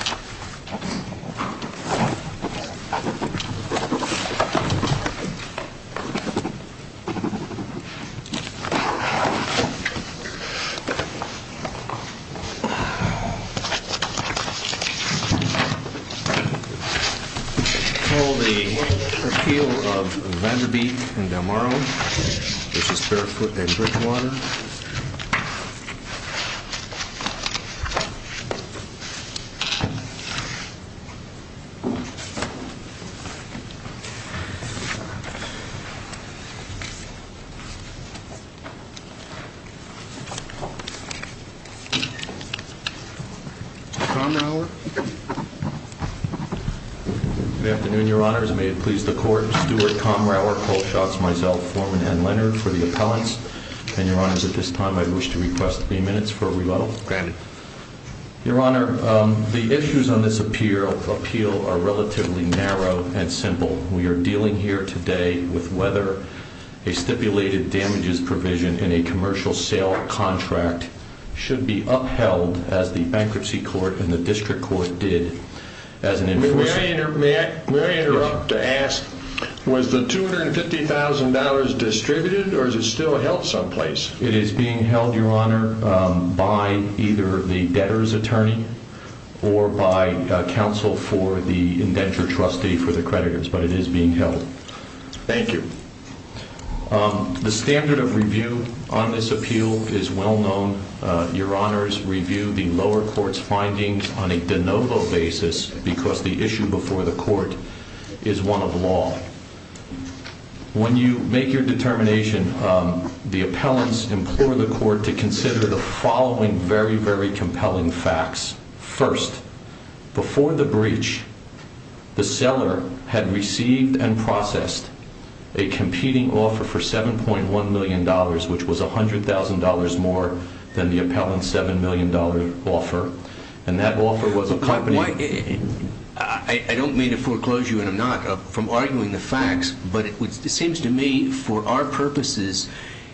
I call the appeal of Vanderbeek and Delmaro, this is Barefoot and Bridgewater. Comrower? Good afternoon, your honors. May it please the court, Stewart Comrower, Cole Schatz, myself, Foreman, and Leonard for the appellants. And your honors, at this time I wish to request three minutes for rebuttal. Granted. Your honor, the issues on this appeal are relatively narrow and simple. We are dealing here today with whether a stipulated damages provision in a commercial sale contract should be upheld as the bankruptcy court and the district court did. May I interrupt to ask, was the $250,000 distributed or is it still held someplace? It is being held, your honor, by either the debtor's attorney or by counsel for the indenture trustee for the creditors, but it is being held. Thank you. The standard of review on this appeal is well known. Your honors review the lower court's findings on a de novo basis because the issue before the court is one of law. When you make your determination, the appellants implore the court to consider the following very, very compelling facts. First, before the breach, the seller had received and processed a competing offer for $7.1 million, which was $100,000 more than the appellant's $7 million offer. And that offer was a company... For our purposes,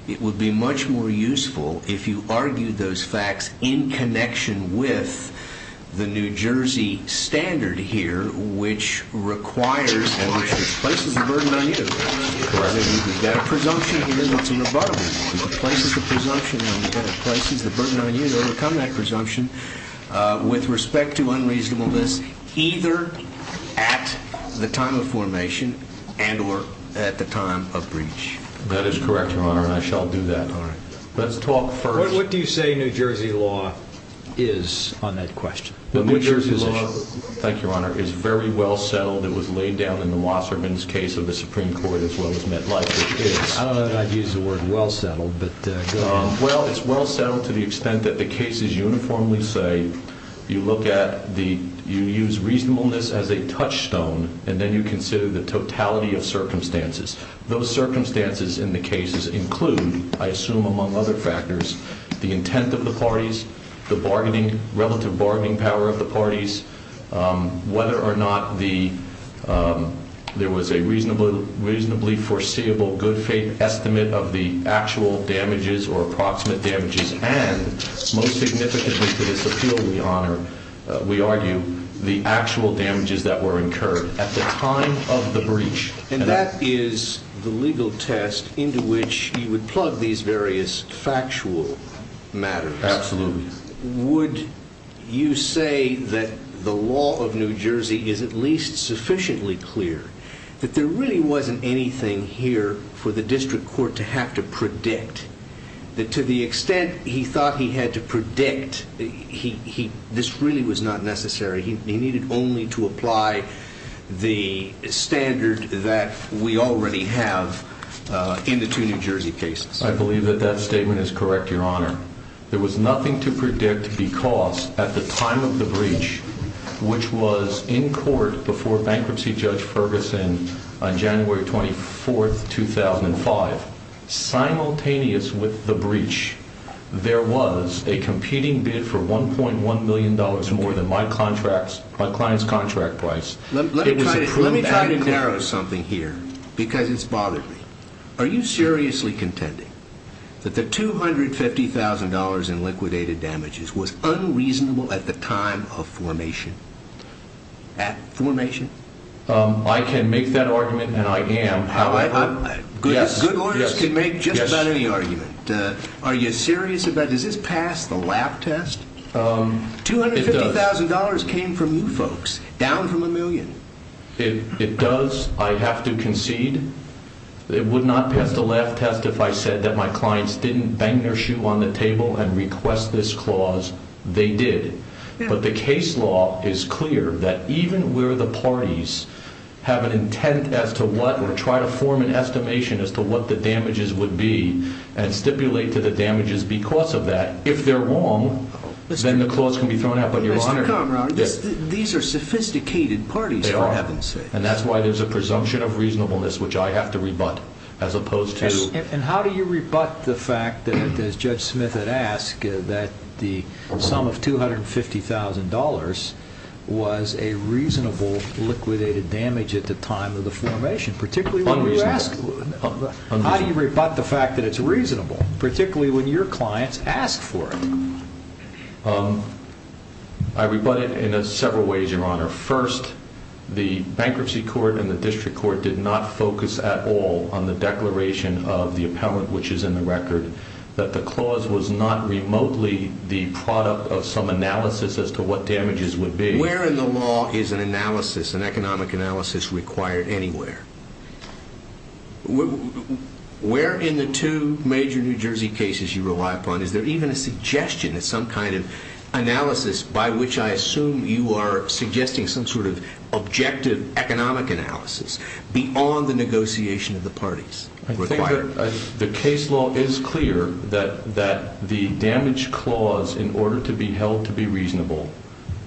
it would be much more useful if you argued those facts in connection with the New Jersey standard here, which requires and which places the burden on you. You've got a presumption here that's irrevocable. You've got to place the presumption and you've got to place the burden on you to overcome that presumption with respect to unreasonableness either at the time of formation and or at the time of breach. That is correct, your honor, and I shall do that. All right. Let's talk first... What do you say New Jersey law is on that question? The New Jersey law, thank you, your honor, is very well settled. It was laid down in the Wasserman's case of the Supreme Court as well as MetLife's case. I don't know that I'd use the word well settled, but go ahead. Well, it's well settled to the extent that the cases uniformly say you look at the... You use reasonableness as a touchstone and then you consider the totality of circumstances. Those circumstances in the cases include, I assume among other factors, the intent of the parties, the bargaining, relative bargaining power of the parties, whether or not the... And most significantly to this appeal, your honor, we argue the actual damages that were incurred at the time of the breach. And that is the legal test into which you would plug these various factual matters. Absolutely. Would you say that the law of New Jersey is at least sufficiently clear that there really wasn't anything here for the district court to have to predict? That to the extent he thought he had to predict, this really was not necessary. He needed only to apply the standard that we already have in the two New Jersey cases. I believe that that statement is correct, your honor. There was nothing to predict because at the time of the breach, which was in court before bankruptcy judge Ferguson on January 24th, 2005, simultaneous with the breach, there was a competing bid for $1.1 million more than my client's contract price. Let me try to narrow something here because it's bothered me. Are you seriously contending that the $250,000 in liquidated damages was unreasonable at the time of formation? At formation? I can make that argument and I am. Good lawyers can make just about any argument. Are you serious about, does this pass the laugh test? $250,000 came from you folks, down from a million. It does. I have to concede. It would not pass the laugh test if I said that my clients didn't bang their shoe on the table and request this clause. They did. But the case law is clear that even where the parties have an intent as to what or try to form an estimation as to what the damages would be and stipulate to the damages because of that, if they're wrong, then the clause can be thrown out. But your honor, these are sophisticated parties for heaven's sake. They are. And that's why there's a presumption of reasonableness, which I have to rebut, as opposed to... And how do you rebut the fact that, as Judge Smith had asked, that the sum of $250,000 was a reasonable liquidated damage at the time of the formation? Particularly when you ask... Unreasonable. How do you rebut the fact that it's reasonable? Particularly when your clients ask for it. I rebut it in several ways, your honor. First, the bankruptcy court and the district court did not focus at all on the declaration of the appellant, which is in the record, that the clause was not remotely the product of some analysis as to what damages would be. Where in the law is an analysis, an economic analysis, required anywhere? Where in the two major New Jersey cases you rely upon, is there even a suggestion that some kind of analysis, by which I assume you are suggesting some sort of objective economic analysis, beyond the negotiation of the parties required? The case law is clear that the damage clause, in order to be held to be reasonable,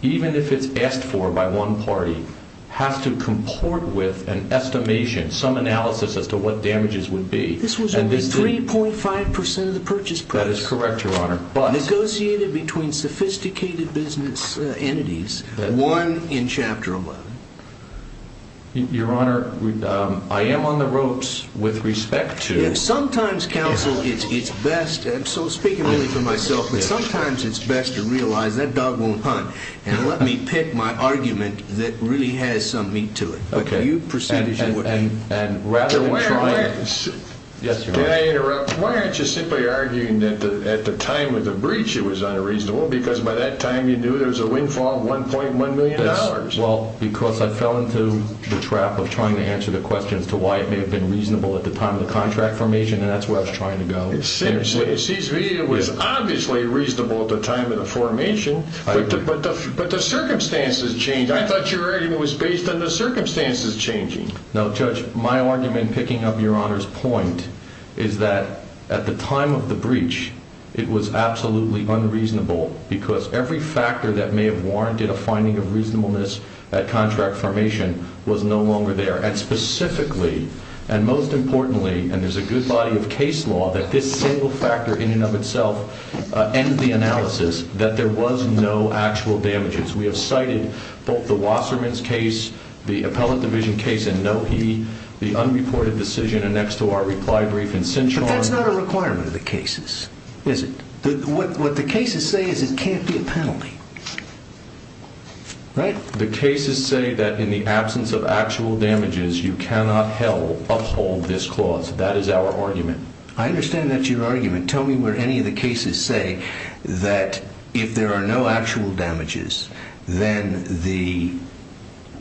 even if it's asked for by one party, has to comport with an estimation, some analysis as to what damages would be. This was only 3.5% of the purchase price. That is correct, your honor. Negotiated between sophisticated business entities, one in Chapter 11. Your honor, I am on the ropes with respect to... Sometimes, counsel, it's best, and I'm speaking really for myself, but sometimes it's best to realize that dog won't hunt, and let me pick my argument that really has some meat to it. And rather than trying... Did I interrupt? Why aren't you simply arguing that at the time of the breach it was unreasonable, because by that time you knew there was a windfall of $1.1 million? Well, because I fell into the trap of trying to answer the question as to why it may have been reasonable at the time of the contract formation, and that's where I was trying to go. Seriously, it was obviously reasonable at the time of the formation, but the circumstances changed. I thought your argument was based on the circumstances changing. No, Judge, my argument, picking up your honor's point, is that at the time of the breach it was absolutely unreasonable, because every factor that may have warranted a finding of reasonableness at contract formation was no longer there. And specifically, and most importantly, and there's a good body of case law that this single factor in and of itself ends the analysis that there was no actual damages. We have cited both the Wasserman's case, the appellate division case in Nohe, the unreported decision annexed to our reply brief in Cinchon. But that's not a requirement of the cases, is it? What the cases say is it can't be a penalty, right? The cases say that in the absence of actual damages you cannot uphold this clause. That is our argument. I understand that's your argument. Tell me what any of the cases say that if there are no actual damages then the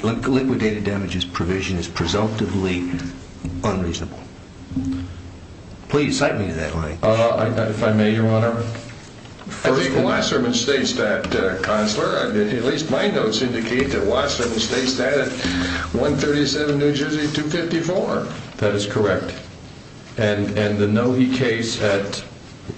liquidated damages provision is presumptively unreasonable. Please cite me to that line. If I may, Your Honor, I think Wasserman states that, Counselor. At least my notes indicate that Wasserman states that at 137 New Jersey 254. That is correct. And the Nohe case at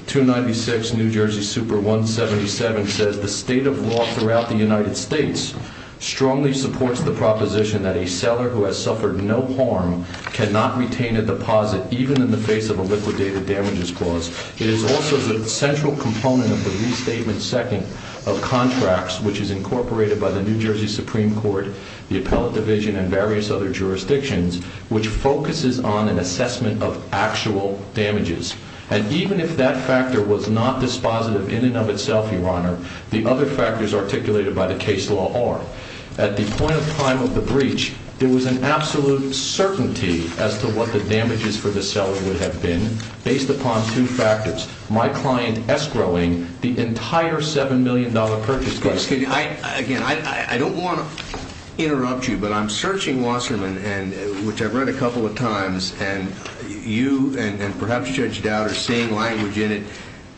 296 New Jersey Super 177 says the state of law throughout the United States strongly supports the proposition that a seller who has suffered no harm cannot retain a deposit even in the face of a liquidated damages clause. It is also the central component of the restatement second of contracts which is incorporated by the New Jersey Supreme Court, the appellate division, and various other jurisdictions which focuses on an assessment of actual damages. And even if that factor was not dispositive in and of itself, Your Honor, the other factors articulated by the case law are. At the point of time of the breach, there was an absolute certainty as to what the damages for the seller would have been based upon two factors. My client escrowing the entire $7 million purchase. Excuse me. Again, I don't want to interrupt you, but I'm searching Wasserman which I've read a couple of times, and you and perhaps Judge Dowd are seeing language in it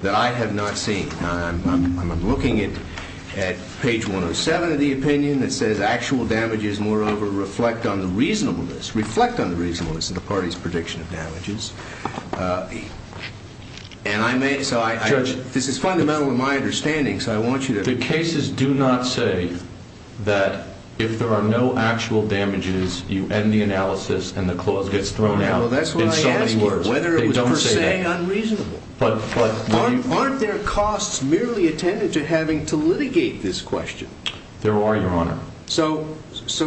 that I have not seen. I'm looking at page 107 of the opinion that says actual damages moreover reflect on the reasonableness, reflect on the reasonableness of the party's prediction of damages. And I may, so I. Judge. This is fundamental in my understanding, so I want you to. The cases do not say that if there are no actual damages, you end the analysis and the clause gets thrown out. Well, that's what I asked for, whether it was per se unreasonable. Aren't there costs merely attended to having to litigate this question? There are, Your Honor. So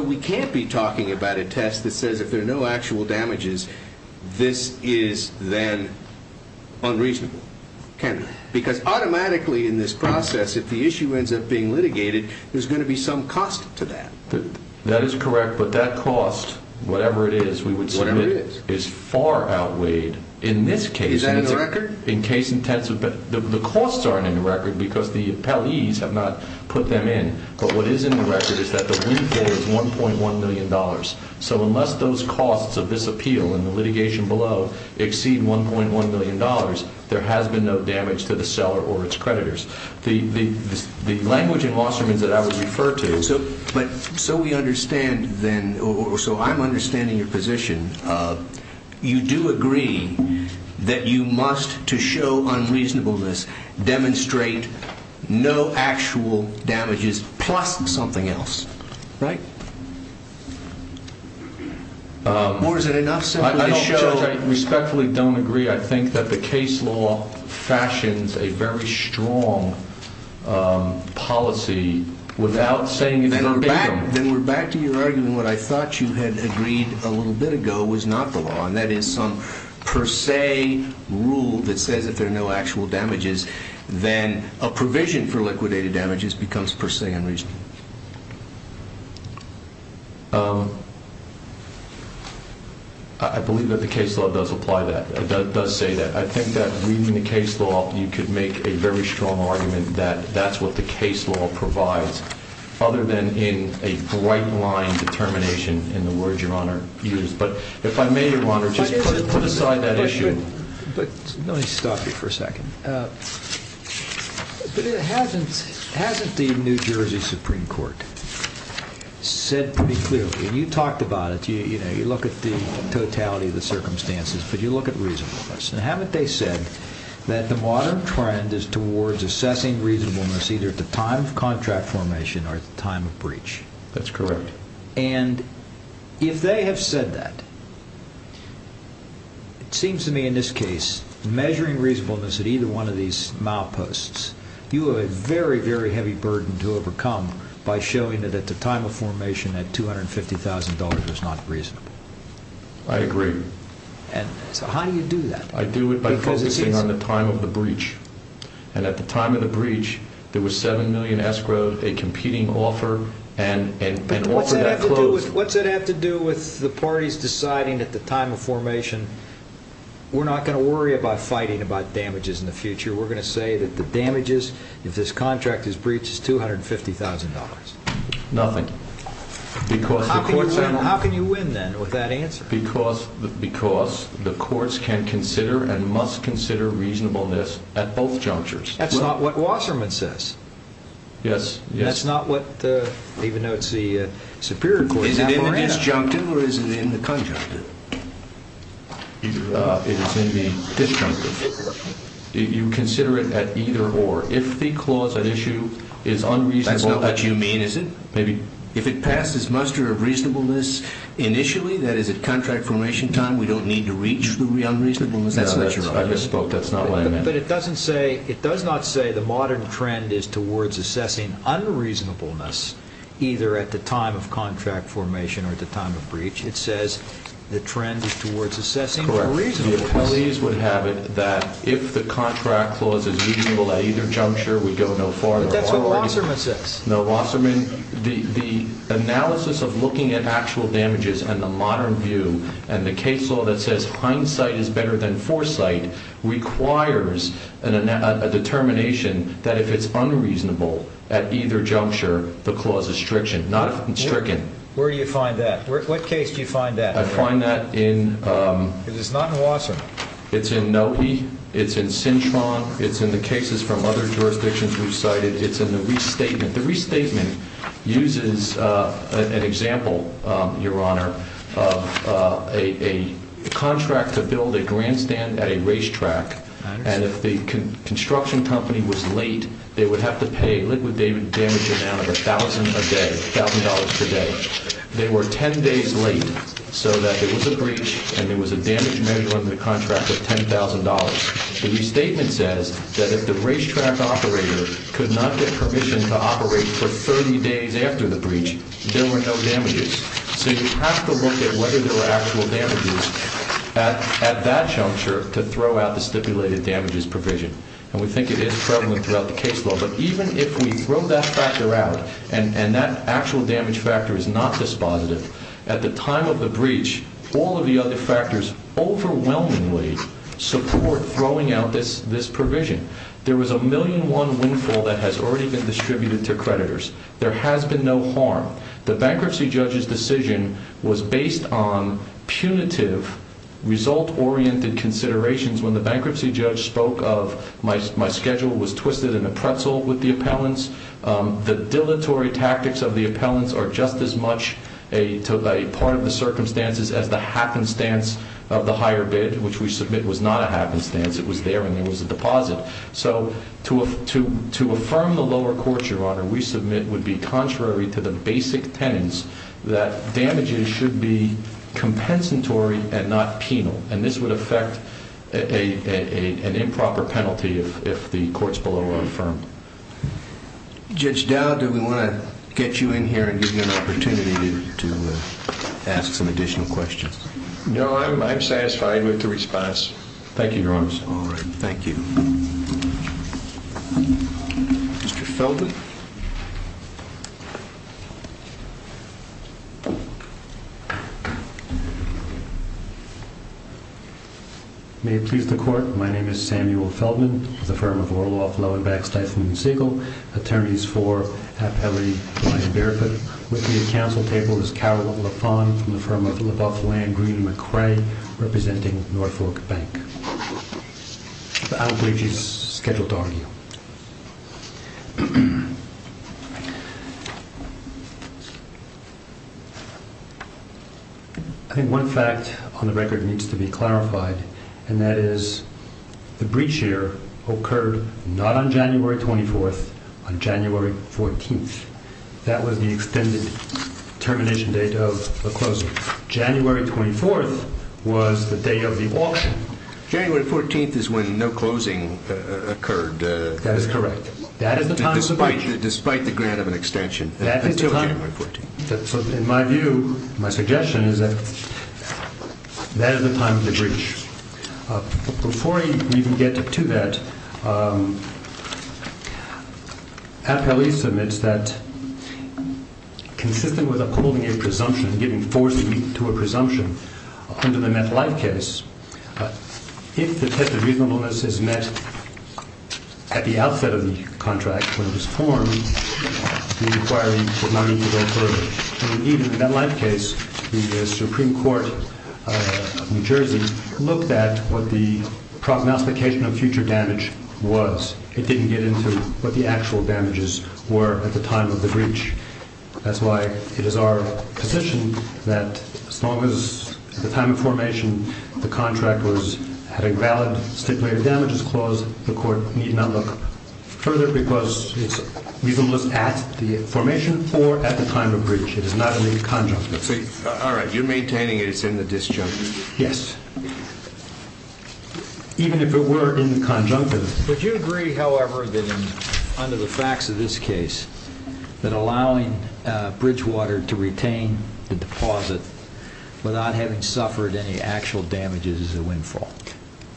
we can't be talking about a test that says if there are no actual damages, this is then unreasonable, can it? Because automatically in this process, if the issue ends up being litigated, there's going to be some cost to that. That is correct. But that cost, whatever it is, we would say is far outweighed in this case. Is that in the record? In case intensive. The costs aren't in the record because the appellees have not put them in. But what is in the record is that the windfall is $1.1 million. So unless those costs of this appeal and the litigation below exceed $1.1 million, there has been no damage to the seller or its creditors. The language in Wasserman's that I would refer to. So we understand then, or so I'm understanding your position, you do agree that you must, to show unreasonableness, demonstrate no actual damages plus something else, right? Or is it enough simply to show? I respectfully don't agree. I think that the case law fashions a very strong policy without saying in verbatim. Then we're back to your argument. What I thought you had agreed a little bit ago was not the law, and that is some per se rule that says if there are no actual damages, then a provision for liquidated damages becomes per se unreasonable. I believe that the case law does apply that. It does say that. I think that reading the case law, you could make a very strong argument that that's what the case law provides, other than in a bright line determination in the words your Honor used. But if I may, your Honor, just put aside that issue. But let me stop you for a second. But hasn't the New Jersey Supreme Court said pretty clearly, and you talked about it, you look at the totality of the circumstances, but you look at reasonableness. Haven't they said that the modern trend is towards assessing reasonableness either at the time of contract formation or at the time of breach? That's correct. And if they have said that, it seems to me in this case, measuring reasonableness at either one of these mileposts, you have a very, very heavy burden to overcome by showing that at the time of formation that $250,000 was not reasonable. I agree. So how do you do that? I do it by focusing on the time of the breach. And at the time of the breach, there was 7 million escrowed, a competing offer, and an offer that closed. What's that have to do with the parties deciding at the time of formation, we're not going to worry about fighting about damages in the future. We're going to say that the damages, if this contract is breached, is $250,000. Nothing. How can you win, then, with that answer? Because the courts can consider and must consider reasonableness at both junctures. That's not what Wasserman says. Yes. That's not what, even though it's the Superior Court's memorandum. Is it disjunctive or is it in the conjunctive? It is in the disjunctive. You consider it at either or. If the clause at issue is unreasonable. That's not what you mean, is it? If it passes muster of reasonableness initially, that is, at contract formation time, we don't need to reach the reasonableness measure. I just spoke. That's not what I meant. But it does not say the modern trend is towards assessing unreasonableness either at the time of contract formation or at the time of breach. It says the trend is towards assessing reasonableness. Correct. The appellees would have it that if the contract clause is reasonable at either juncture, we go no farther. But that's what Wasserman says. No, Wasserman, the analysis of looking at actual damages and the modern view and the case law that says hindsight is better than foresight requires a determination that if it's unreasonable at either juncture, the clause is stricken, not stricken. Where do you find that? What case do you find that? I find that in. It is not in Wasserman. It's in Nopi. It's in Cintron. It's in the cases from other jurisdictions we've cited. It's in the restatement. The restatement uses an example, Your Honor, of a contract to build a grandstand at a racetrack. And if the construction company was late, they would have to pay a liquid damage amount of $1,000 a day, $1,000 per day. They were 10 days late so that there was a breach and there was a damage measure under the contract of $10,000. The restatement says that if the racetrack operator could not get permission to operate for 30 days after the breach, there were no damages. So you have to look at whether there were actual damages at that juncture to throw out the stipulated damages provision. And we think it is prevalent throughout the case law. But even if we throw that factor out and that actual damage factor is not dispositive, at the time of the breach, all of the other factors overwhelmingly support throwing out this provision. There was a $1,000,000 windfall that has already been distributed to creditors. There has been no harm. The bankruptcy judge's decision was based on punitive, result-oriented considerations. When the bankruptcy judge spoke of my schedule was twisted in a pretzel with the appellants, the dilatory tactics of the appellants are just as much a part of the circumstances as the happenstance of the higher bid, which we submit was not a happenstance. It was there and there was a deposit. So to affirm the lower court, Your Honor, we submit would be contrary to the basic tenets that damages should be compensatory and not penal. And this would affect an improper penalty if the court's below a firm. Judge Dowd, do we want to get you in here and give you an opportunity to ask some additional questions? No, I'm satisfied with the response. Thank you, Your Honor. All right. Thank you. Mr. Felton? May it please the Court. My name is Samuel Felton, the firm of Orloff, Loewenbach, Steiffman & Siegel, attorneys for Appellee Brian Barefoot. With me at counsel table is Carol LaFawn from the firm of LaBeouf, Land, Green & McRae, representing Norfolk Bank. The outage is scheduled to argue. I think one fact on the record needs to be clarified, and that is the breach here occurred not on January 24th, on January 14th. That was the extended termination date of the closing. January 24th was the date of the auction. January 14th is when no closing occurred. That is correct. That is the time of the breach. Despite the grant of an extension until January 14th. In my view, my suggestion is that that is the time of the breach. Before we even get to that, Appellee submits that, consistent with upholding a presumption, giving force to a presumption, under the MetLife case, if the test of reasonableness is met at the outset of the contract when it was formed, the inquiry would not need to go further. Indeed, in the MetLife case, the Supreme Court of New Jersey looked at what the prognostication of future damage was. It didn't get into what the actual damages were at the time of the breach. That's why it is our position that as long as, at the time of formation, the contract had a valid stipulated damages clause, the Court need not look further because it's reasonableness at the formation or at the time of the breach. It is not in the conjunctive. All right. You're maintaining it's in the disjunctive? Yes. Even if it were in the conjunctive. Would you agree, however, that under the facts of this case, that allowing Bridgewater to retain the deposit without having suffered any actual damages is a windfall?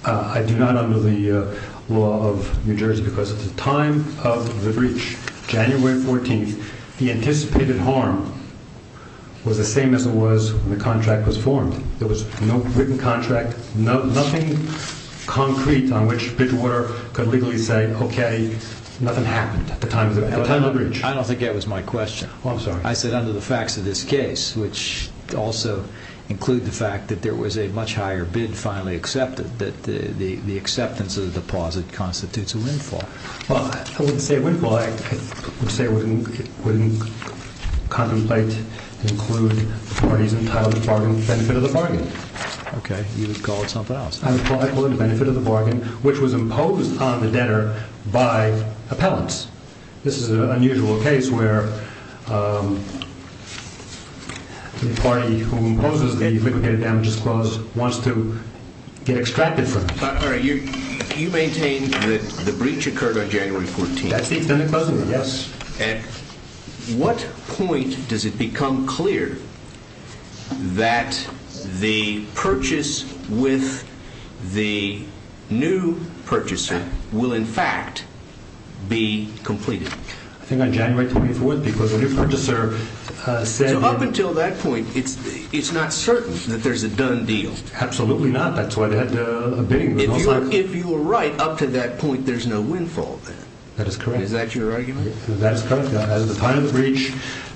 I do not under the law of New Jersey because at the time of the breach, January 14th, the anticipated harm was the same as it was when the contract was formed. There was no written contract, nothing concrete on which Bridgewater could legally say, okay, nothing happened at the time of the breach. I don't think that was my question. I'm sorry. I said under the facts of this case, which also include the fact that there was a much higher bid finally accepted, that the acceptance of the deposit constitutes a windfall. Well, I wouldn't say a windfall. I would say it wouldn't contemplate to include the parties entitled to the benefit of the bargain. Okay. You would call it something else. I would call it the benefit of the bargain, which was imposed on the debtor by appellants. This is an unusual case where the party who imposes the liquidated damages clause wants to get extracted from it. All right. You maintain that the breach occurred on January 14th. That's the extended closing, yes. At what point does it become clear that the purchase with the new purchaser will, in fact, be completed? I think on January 24th because the new purchaser said that— So up until that point, it's not certain that there's a done deal. Absolutely not. That's why they had a bidding. If you were right, up to that point, there's no windfall then. That is correct. Is that your argument? That is correct. As of the time of the breach,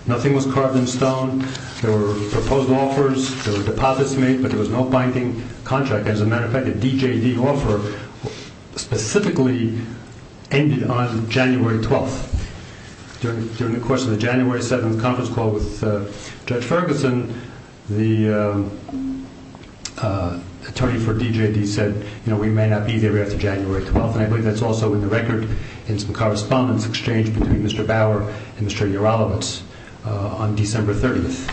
nothing was carved in stone. There were proposed offers, there were deposits made, but there was no binding contract. As a matter of fact, the DJD offer specifically ended on January 12th. During the course of the January 7th conference call with Judge Ferguson, the attorney for DJD said, you know, we may not be there after January 12th. I believe that's also in the record in some correspondence exchanged between Mr. Bauer and Mr. Uralovitz on December 30th.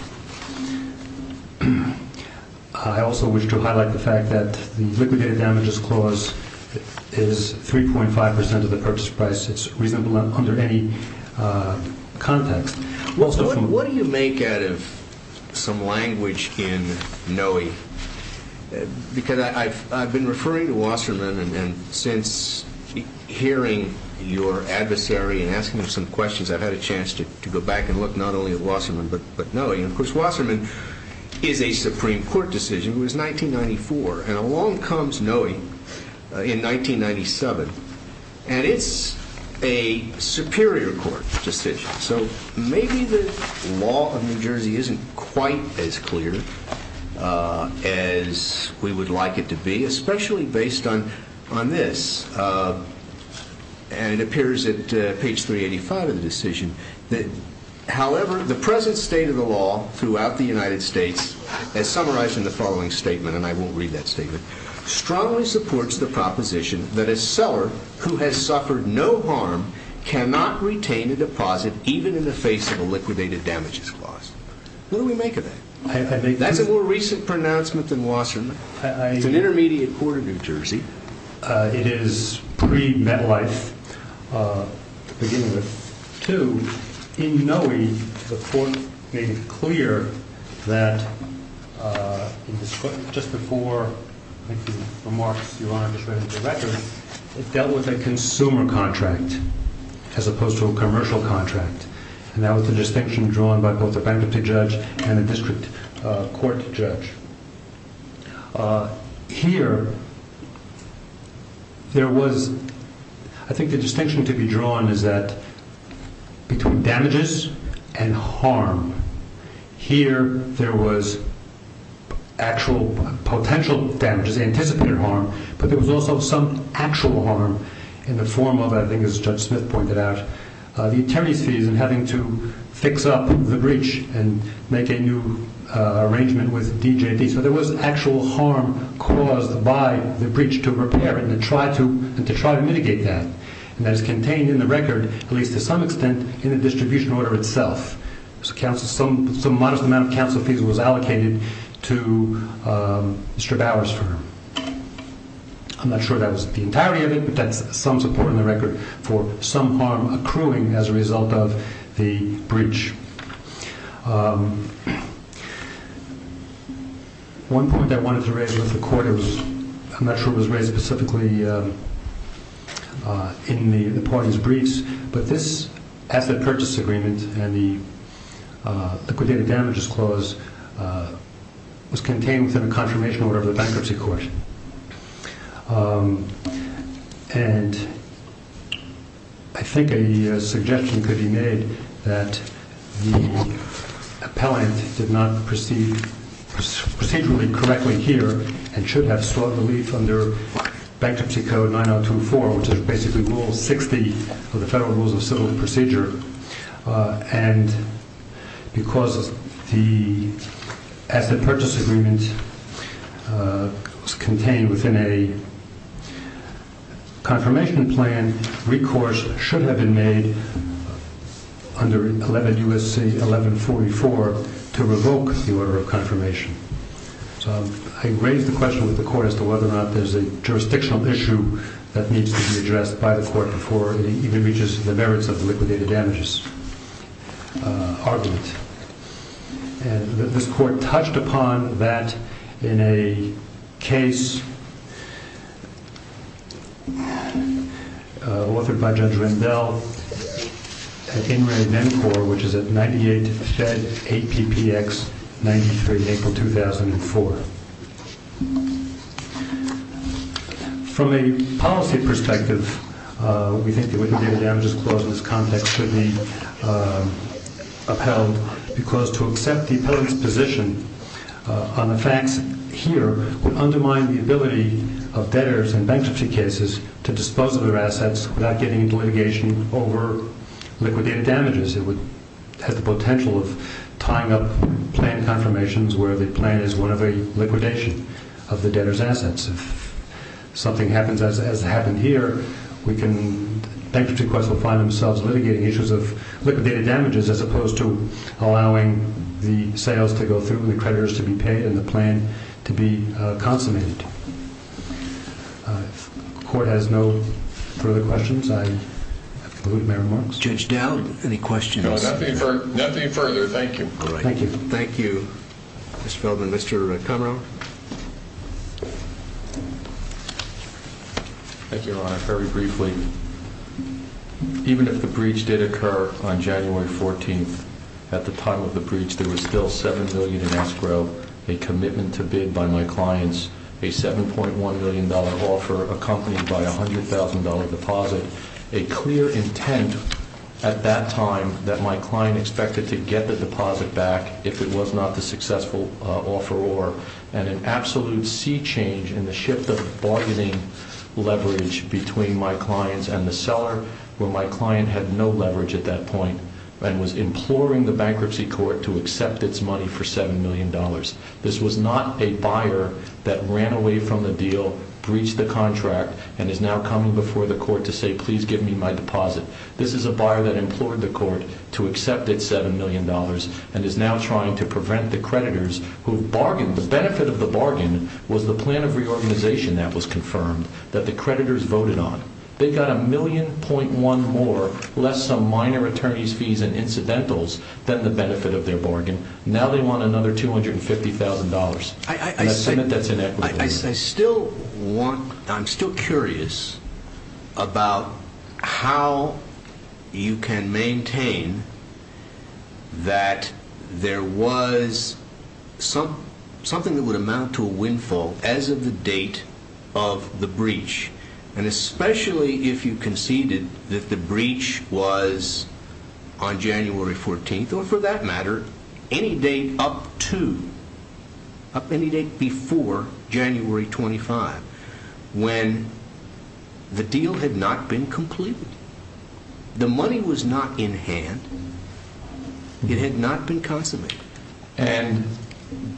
I also wish to highlight the fact that the liquidated damages clause is 3.5 percent of the purchase price. It's reasonable under any context. What do you make out of some language in Noe? Because I've been referring to Wasserman and since hearing your adversary and asking him some questions, I've had a chance to go back and look not only at Wasserman but Noe. Of course, Wasserman is a Supreme Court decision. It was 1994. And along comes Noe in 1997. And it's a superior court decision. So maybe the law of New Jersey isn't quite as clear as we would like it to be, especially based on this. And it appears at page 385 of the decision that, however, the present state of the law throughout the United States, as summarized in the following statement, and I won't read that statement, strongly supports the proposition that a seller who has suffered no harm cannot retain a deposit even in the face of a liquidated damages clause. What do we make of that? That's a more recent pronouncement than Wasserman. It's an intermediate court of New Jersey. It is pre-MetLife beginning with 2. In Noe, the court made it clear that just before making remarks, Your Honor, just reading the record, it dealt with a consumer contract as opposed to a commercial contract. And that was the distinction drawn by both the bankruptcy judge and the district court judge. Here, there was, I think the distinction to be drawn is that between damages and harm, here there was actual potential damages, anticipated harm, but there was also some actual harm in the form of, I think as Judge Smith pointed out, the attorney's fees and having to fix up the breach and make a new arrangement with DJD. So there was actual harm caused by the breach to repair and to try to mitigate that. And that is contained in the record, at least to some extent, in the distribution order itself. Some modest amount of counsel fees was allocated to Mr. Bauer's firm. I'm not sure that was the entirety of it, but that's some support in the record for some harm accruing as a result of the breach. One point I wanted to raise with the court, I'm not sure it was raised specifically in the parties' briefs, but this asset purchase agreement and the liquidated damages clause was contained within a confirmation order of the bankruptcy court. And I think a suggestion could be made that the appellant did not proceed procedurally correctly here and should have sought relief under Bankruptcy Code 9024, which is basically Rule 60 of the Federal Rules of Civil Procedure. And because the asset purchase agreement was contained within a confirmation plan, recourse should have been made under 11 U.S.C. 1144 to revoke the order of confirmation. So I raise the question with the court as to whether or not there's a jurisdictional issue that needs to be addressed by the court before it even reaches the merits of the liquidated damages argument. And this court touched upon that in a case authored by Judge Rendell at In re Mencor, which is at 98 Fed APPX 93, April 2004. From a policy perspective, we think the liquidated damages clause in this context should be upheld because to accept the appellant's position on the facts here would undermine the ability of debtors in bankruptcy cases to dispose of their assets without getting into litigation over liquidated damages. It has the potential of tying up plan confirmations where the plan is one of a liquidation of the debtor's assets. If something happens as happened here, we can... Bankruptcy courts will find themselves litigating issues of liquidated damages as opposed to allowing the sales to go through and the creditors to be paid and the plan to be consummated. If the court has no further questions, I conclude my remarks. Judge Dowd, any questions? No, nothing further. Thank you. Thank you. Thank you, Mr. Feldman. Mr. Kumher? Thank you, Your Honor. Very briefly, even if the breach did occur on January 14th, at the time of the breach, there was still $7 million in escrow, a commitment to bid by my clients, a $7.1 million offer accompanied by a $100,000 deposit, a clear intent at that time that my client expected to get the deposit back if it was not the successful offeror, and an absolute sea change in the shift of bargaining leverage between my clients and the seller, where my client had no leverage at that point and was imploring the bankruptcy court to accept its money for $7 million. This was not a buyer that ran away from the deal, breached the contract, and is now coming before the court to say, please give me my deposit. This is a buyer that implored the court to accept its $7 million and is now trying to prevent the creditors who have bargained. The benefit of the bargain was the plan of reorganization that was confirmed that the creditors voted on. They got a $1.1 million more, less some minor attorney's fees and incidentals, than the benefit of their bargain. Now they want another $250,000. I still want, I'm still curious about how you can maintain that there was something that would amount to a windfall as of the date of the breach. And especially if you conceded that the breach was on January 14th, or for that matter, any date up to, up any date before January 25, when the deal had not been completed. The money was not in hand. It had not been consummated. And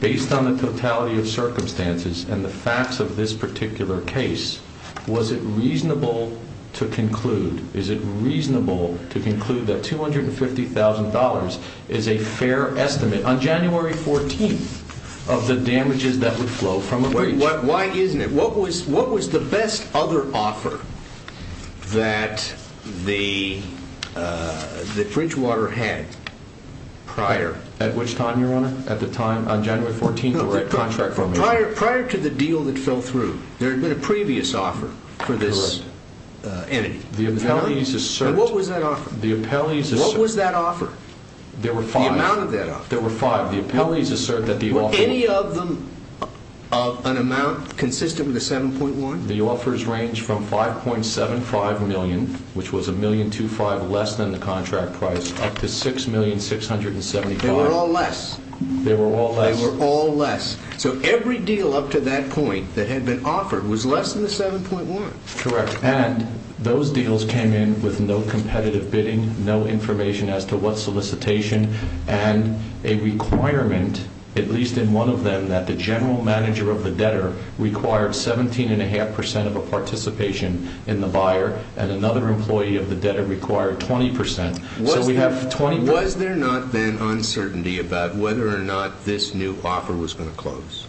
based on the totality of circumstances and the facts of this particular case, was it reasonable to conclude, is it reasonable to conclude that $250,000 is a fair estimate on January 14th of the damages that would flow from a breach? Why isn't it? What was the best other offer that Bridgewater had prior? At which time, Your Honor? At the time on January 14th of the contract formation? No, prior to the deal that fell through. There had been a previous offer for this entity. And what was that offer? What was that offer? There were five. The amount of that offer? There were five. Were any of them of an amount consistent with the 7.1? The offers ranged from $5.75 million, which was $1.25 million less than the contract price, up to $6,675,000. They were all less. They were all less. They were all less. So every deal up to that point that had been offered was less than the 7.1. Correct. And those deals came in with no competitive bidding, no information as to what solicitation, and a requirement, at least in one of them, that the general manager of the debtor required 17.5 percent of a participation in the buyer, and another employee of the debtor required 20 percent. So we have 20 percent. Was there not then uncertainty about whether or not this new offer was going to close?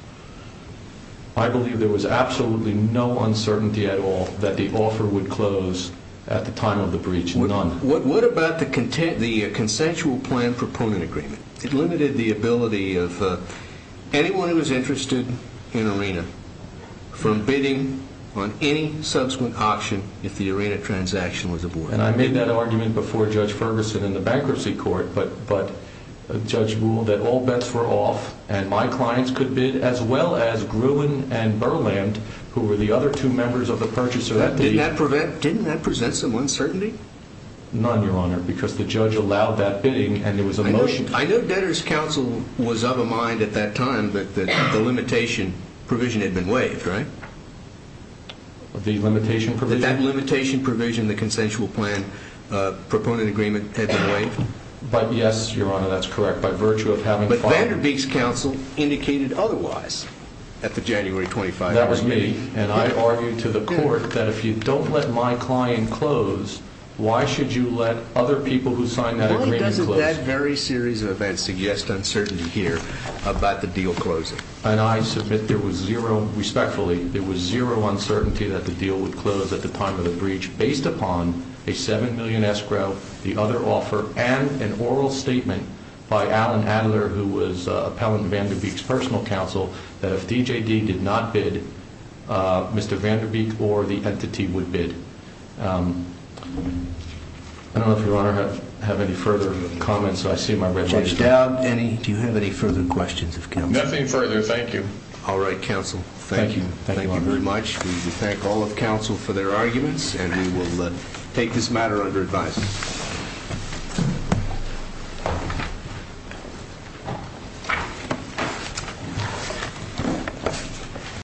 I believe there was absolutely no uncertainty at all that the offer would close at the time of the breach. None. What about the consensual plan proponent agreement? It limited the ability of anyone who was interested in ARENA from bidding on any subsequent auction if the ARENA transaction was aborted. And I made that argument before Judge Ferguson in the bankruptcy court, but the judge ruled that all bets were off, and my clients could bid as well as Gruen and Burland, who were the other two members of the purchaser. Didn't that present some uncertainty? None, Your Honor, because the judge allowed that bidding, and there was a motion. I know debtors' counsel was of a mind at that time that the limitation provision had been waived, right? The limitation provision? That that limitation provision in the consensual plan proponent agreement had been waived? Yes, Your Honor, that's correct, by virtue of having filed it. But Vanderbeek's counsel indicated otherwise at the January 25th hearing. That was me, and I argued to the court that if you don't let my client close, why should you let other people who signed that agreement close? Why doesn't that very series of events suggest uncertainty here about the deal closing? And I submit there was zero, respectfully, there was zero uncertainty that the deal would close at the time of the breach, based upon a $7 million escrow, the other offer, and an oral statement by Alan Adler, who was appellant Vanderbeek's personal counsel, that if DJD did not bid, Mr. Vanderbeek or the entity would bid. I don't know if Your Honor has any further comments. I see my red light. Judge Dowd, do you have any further questions of counsel? Nothing further. Thank you. All right, counsel. Thank you. Thank you very much. We thank all of counsel for their arguments, and we will take this matter under advice.